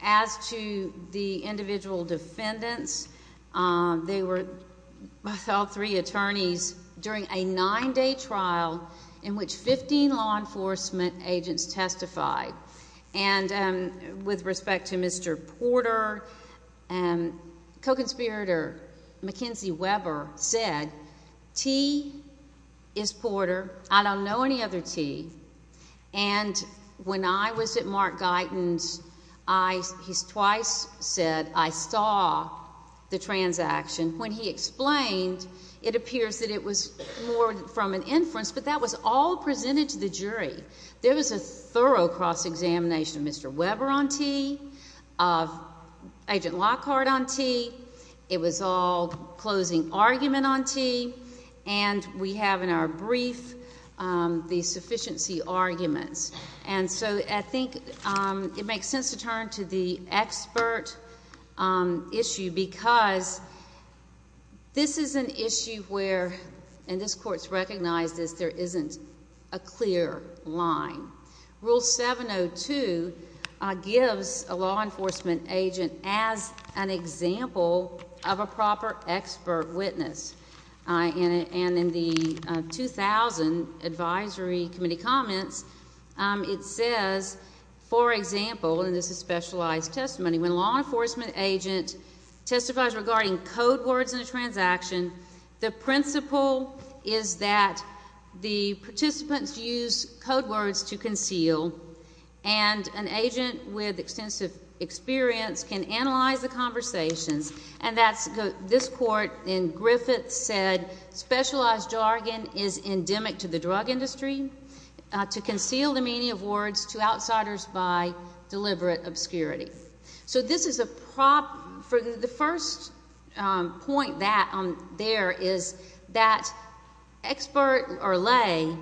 As to the individual defendants, they were all three attorneys during a nine-day trial in which 15 law enforcement agents testified. With respect to Mr. Porter, co-conspirator Mackenzie Weber said, T is Porter. I don't know any other T. When I was at Mark Guyton's, he twice said, I saw the transaction. When he explained, it appears that it was more from an inference, but that was all presented to the jury. There was a thorough cross-examination of Mr. Weber on T, of Agent Lockhart on T. It was all closing argument on T, and we have in our brief the sufficiency arguments. I think it makes sense to turn to the expert issue because this is an issue where, and this court's recognized this, there isn't a clear line. Rule 702 gives a law enforcement agent as an example of a witness. In the 2000 Advisory Committee comments, it says, for example, and this is specialized testimony, when a law enforcement agent testifies regarding code words in a transaction, the principle is that the participants use code words to conceal, and an agent with extensive experience can analyze the conversations. This court in Griffith said, specialized jargon is endemic to the drug industry, to conceal the meaning of words to outsiders by deliberate obscurity. The first point there is that expert or lay,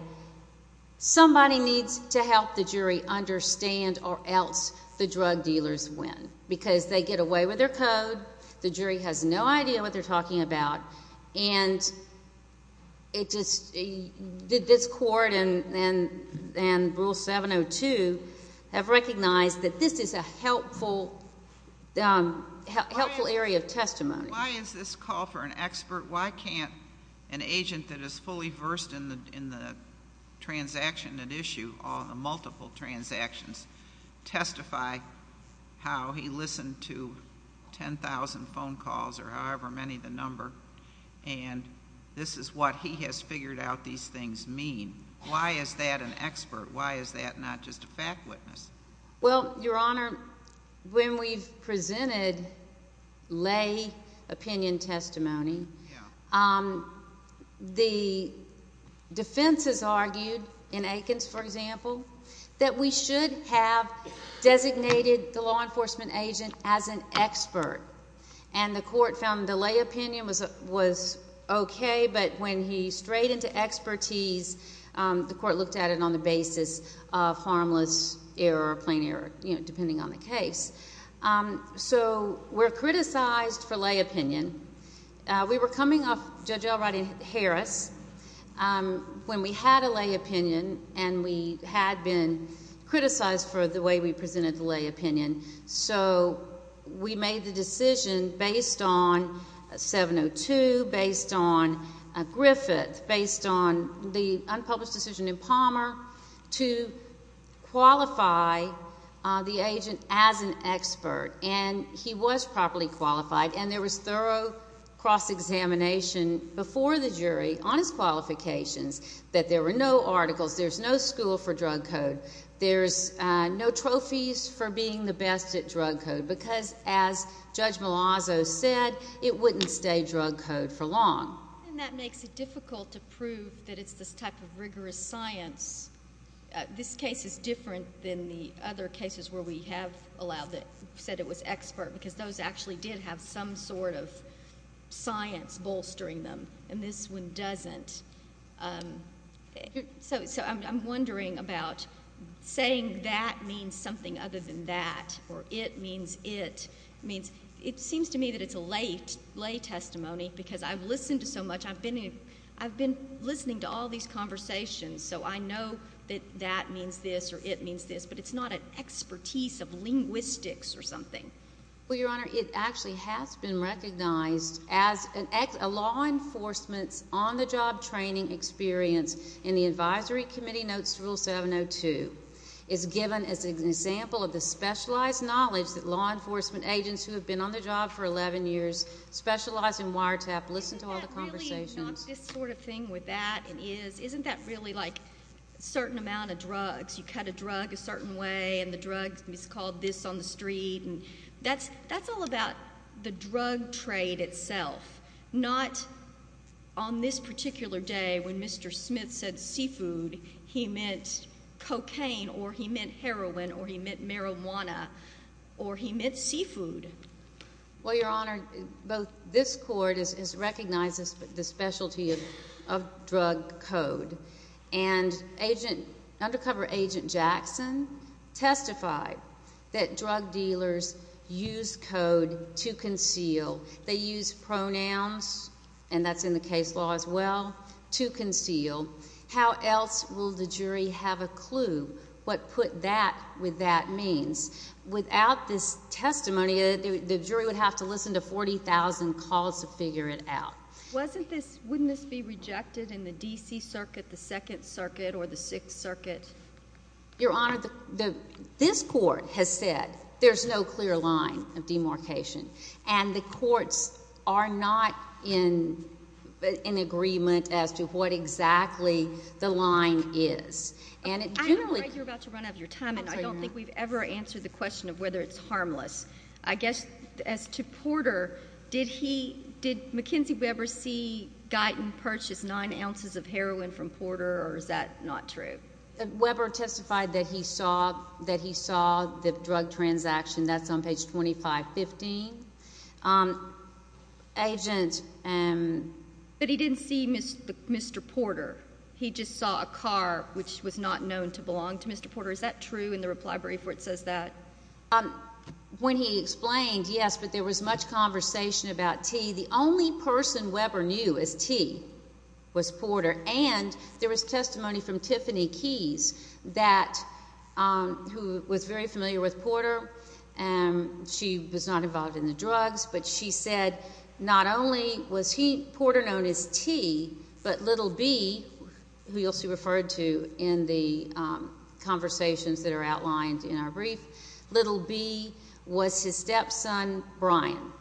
somebody needs to help the jury understand or else the drug dealers win because they get away with their code, the jury has no idea what they're talking about, and it just... this court and Rule 702 have recognized that this is a helpful area of testimony. Why is this call for an expert? Why can't an agent that is fully versed in the transaction at issue, all the multiple transactions, testify how he listened to 10,000 phone calls or however many the number, and this is what he has figured out these things mean? Why is that an expert? Why is that not just a fact witness? Well, Your Honor, when we've presented lay opinion testimony, it's not just a fact witness. The defense has argued in Aikens, for example, that we should have designated the law enforcement agent as an expert, and the court found the lay opinion was okay, but when he strayed into expertise, the court looked at it on the basis of harmless error or plain error, depending on the case. So we're criticized for lay opinion. We were coming off Judge L. Roddy Harris when we had a lay opinion, and we had been criticized for the way we presented the lay opinion, so we made the decision based on 702, based on Griffith, based on the unpublished decision in Palmer, to qualify the agent as an expert, and he was properly qualified, and there was thorough cross-examination before the jury on his qualifications that there were no articles, there's no school for drug code, there's no trophies for being the best at drug code, because as Judge Malazzo said, it wouldn't stay drug code for long. And that makes it difficult to prove that it's this type of rigorous science. This case is different than the other cases where we have said it was expert, because those actually did have some sort of science bolstering them, and this one doesn't. So I'm wondering about saying that means something other than that, or it means it. It seems to me that it's a lay testimony, because I've listened to so much, I've been listening to all these conversations, so I know that that means this, or it means this, but it's not an expertise of linguistics or something. Well, Your Honor, it actually has been recognized as a law enforcement's on-the-job training experience in the Advisory Committee Notes to Rule 702. It's given as an example of the specializing wiretap. Listen to all the conversations. Isn't that really not this sort of thing with that? Isn't that really like a certain amount of drugs? You cut a drug a certain way, and the drug is called this on the street? That's all about the drug trade itself, not on this particular day when Mr. Smith said seafood, he meant cocaine, or he meant heroin, or he meant marijuana, or he meant seafood. Well, Your Honor, this Court has recognized the specialty of drug code, and Undercover Agent Jackson testified that drug dealers use code to conceal. They use pronouns, and that's in the case law as well, to conceal. How else will the jury have a clue what put that means? Without this testimony, the jury would have to listen to 40,000 calls to figure it out. Wouldn't this be rejected in the D.C. Circuit, the Second Circuit, or the Sixth Circuit? Your Honor, this Court has said there's no clear line of demarcation, and the courts are not in agreement as to what exactly the line is. I don't know why you're about to run out of your time, and I don't think we've ever answered the question of whether it's harmless. I guess, as to Porter, did McKenzie Weber see Guyton purchase nine ounces of heroin from Porter, or is that not true? Weber testified that he saw the drug transaction. That's on page 2515. Agent... But he didn't see Mr. Porter. He just saw a car, which was not known to belong to Mr. Porter. Is that true in the reply brief where it says that? When he explained, yes, but there was much conversation about T. The only person Weber knew as T was Porter, and there was testimony from Tiffany Keyes, who was very familiar with Porter. She was not involved in the drugs, but she said not only was Porter known as T, but little B, who you'll see referred to in the conversations that are outlined in our brief, little B was his stepson, Brian.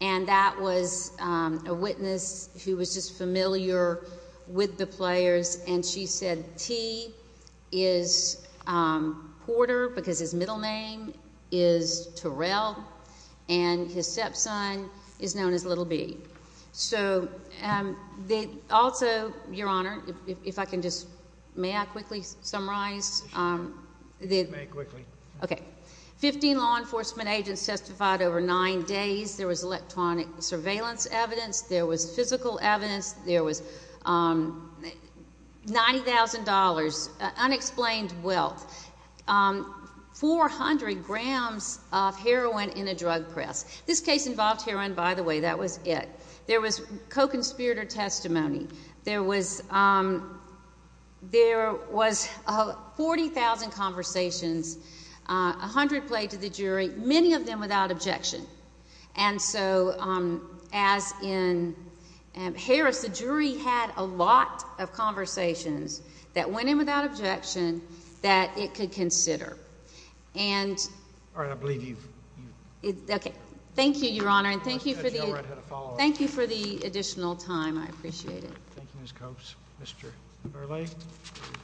That was a witness who was just familiar with the players, and she said T is Porter, because his middle name is Terrell, and his stepson is known as little B. Also, Your Honor, if I can just... May I quickly summarize? You may, quickly. Okay. Fifteen law enforcement agents testified over nine days. There was electronic surveillance evidence. There was physical evidence. There was $90,000, unexplained wealth, 400 grams of heroin in a drug press. This case involved heroin, by the way. That was it. There was co-conspirator testimony. There was 40,000 conversations, 100 played to the jury, many of them without objection. As in Harris, the jury had a lot of conversations that went in without objection that it could consider. All right. I believe you've... Okay. Thank you, Your Honor, and thank you for the additional time. I appreciate it. Thank you, Ms. Copes. Mr. Burleigh?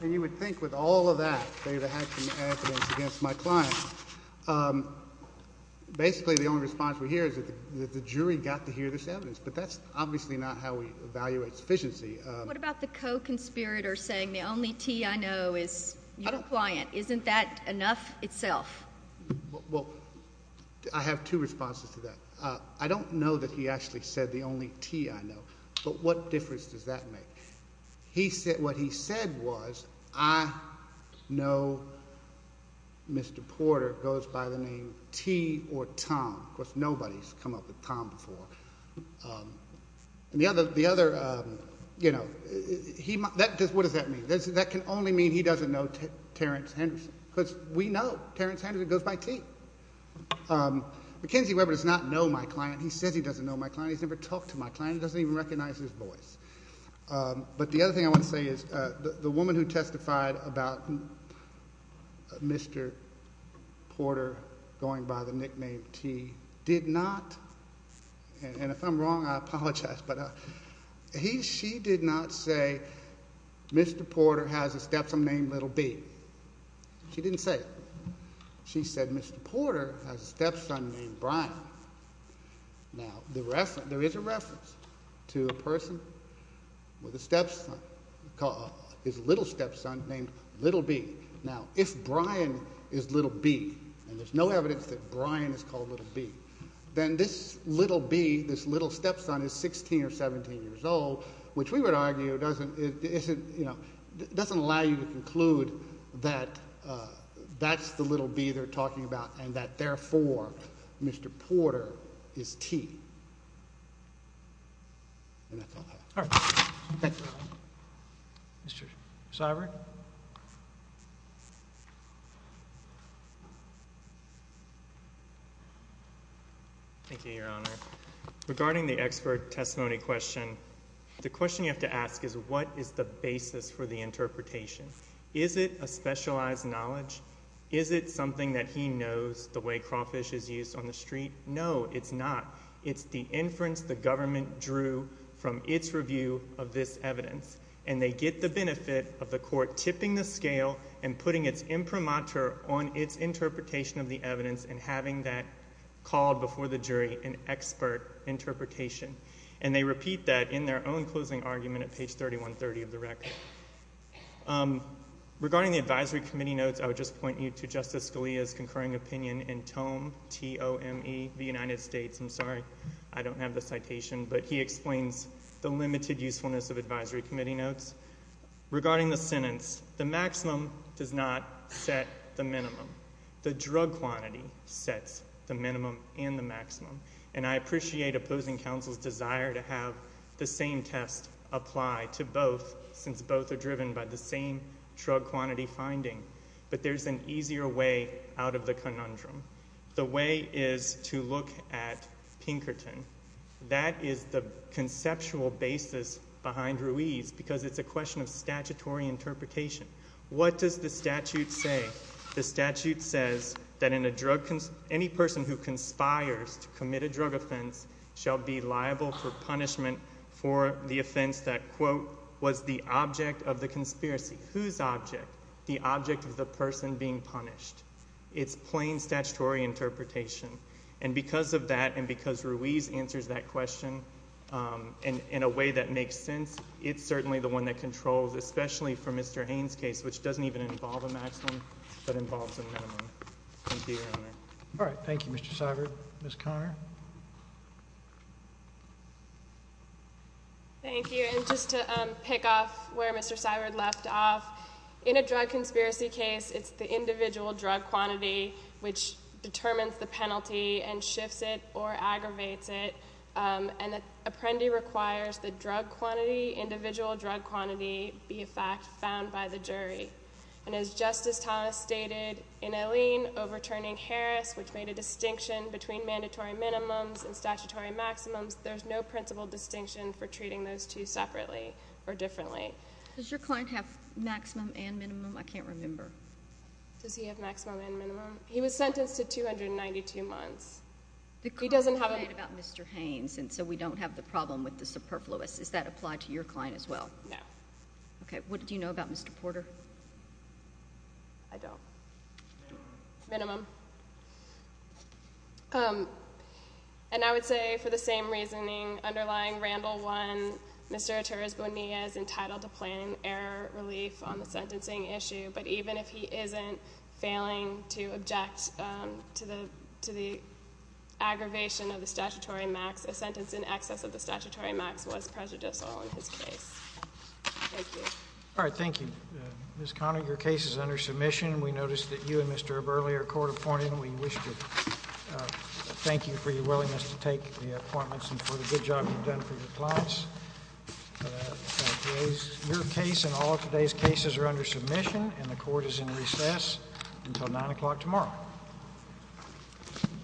You would think with all of that, they would have had some evidence against my client. Basically, the only response we hear is that the jury got to hear this evidence, but that's obviously not how we evaluate sufficiency. What about the co-conspirator saying, the only T I know is your client? Isn't that enough itself? I have two responses to that. I don't know that he actually said the only T I know, but what difference does that make? What he said was, I know Mr. Porter goes by the name T or Tom. Of course, nobody's come up with Tom before. What does that mean? That can only mean he doesn't know Terrence Henderson, because we know Terrence Henderson goes by T. Mackenzie Webber does not know my client. He says he doesn't know my client. He's never talked to my client. He doesn't even recognize his voice. The other thing I want to say is, the woman who testified about Mr. Porter going by the nickname T did not, and if I'm wrong, I apologize, but she did not say Mr. Porter has a stepson named Little B. She didn't say it. She said Mr. Porter has a stepson named Brian. There is a reference to a person with a stepson, his little stepson named Little B. Now, if Brian is Little B, and there's no evidence that Brian is called Little B, then this Little B, this little stepson is 16 or 17 years old, which we would argue doesn't allow you to conclude that that's the Little B they're talking about, and that therefore Mr. Porter is T. All right. Thank you. Mr. Syberg? Thank you, Your Honor. Regarding the expert testimony question, the question you have to ask is, what is the basis for the interpretation? Is it a specialized knowledge? Is it something that he knows, the way crawfish is used on the street? No, it's not. It's the inference the government drew from its review of this evidence, and they get the benefit of the government putting its imprimatur on its interpretation of the evidence and having that called before the jury an expert interpretation. And they repeat that in their own closing argument at page 3130 of the record. Regarding the advisory committee notes, I would just point you to Justice Scalia's concurring opinion in TOME, T-O-M-E, the United States. I'm sorry, I don't have the citation, but he explains the limited usefulness of advisory committee notes. Regarding the sentence, the maximum does not set the minimum. The drug quantity sets the minimum and the maximum. And I appreciate opposing counsel's desire to have the same test apply to both, since both are driven by the same drug quantity finding. But there's an easier way out of the conundrum. The way is to look at Pinkerton. That is the conceptual basis behind Ruiz, because it's a question of statutory interpretation. What does the statute say? The statute says that any person who conspires to commit a drug offense shall be liable for punishment for the offense that, quote, was the object of the conspiracy. Whose object? The object of the person being punished. It's plain statutory interpretation. And because of that and because Ruiz answers that question in a way that makes sense, it's certainly the one that controls, especially for Mr. Haines' case, which doesn't even involve a maximum, but involves a minimum. Thank you, Your Honor. All right. Thank you, Mr. Seibert. Ms. Conner? Thank you. And just to pick off where Mr. Seibert left off, in a drug conspiracy case, it's the individual drug quantity which determines the penalty and shifts it or aggravates it. And the apprendee requires the drug quantity, individual drug quantity, be a fact found by the jury. And as Justice Thomas stated in Alleyne overturning Harris, which made a distinction between mandatory minimums and statutory maximums, there's no principal distinction for treating those two separately or differently. Does your client have maximum and minimum? I can't remember. Does he have maximum and minimum? He was sentenced to 292 months. He doesn't have a minimum. The claim you made about Mr. Haines, and so we don't have the problem with the superfluous, does that apply to your client as well? No. Okay. What do you know about Mr. Porter? I don't. Minimum. And I would say, for the same reasoning, underlying Randall 1, Mr. Porter has failed to plan error relief on the sentencing issue, but even if he isn't failing to object to the aggravation of the statutory max, a sentence in excess of the statutory max was prejudicial in his case. Thank you. All right. Thank you. Ms. Conner, your case is under submission. We noticed that you and Mr. Burley are court-appointed, and we wish to thank you for your willingness to take the appointments and for the good job you've done for your clients. Your case and all of today's cases are under submission, and the court is in recess until 9 o'clock tomorrow.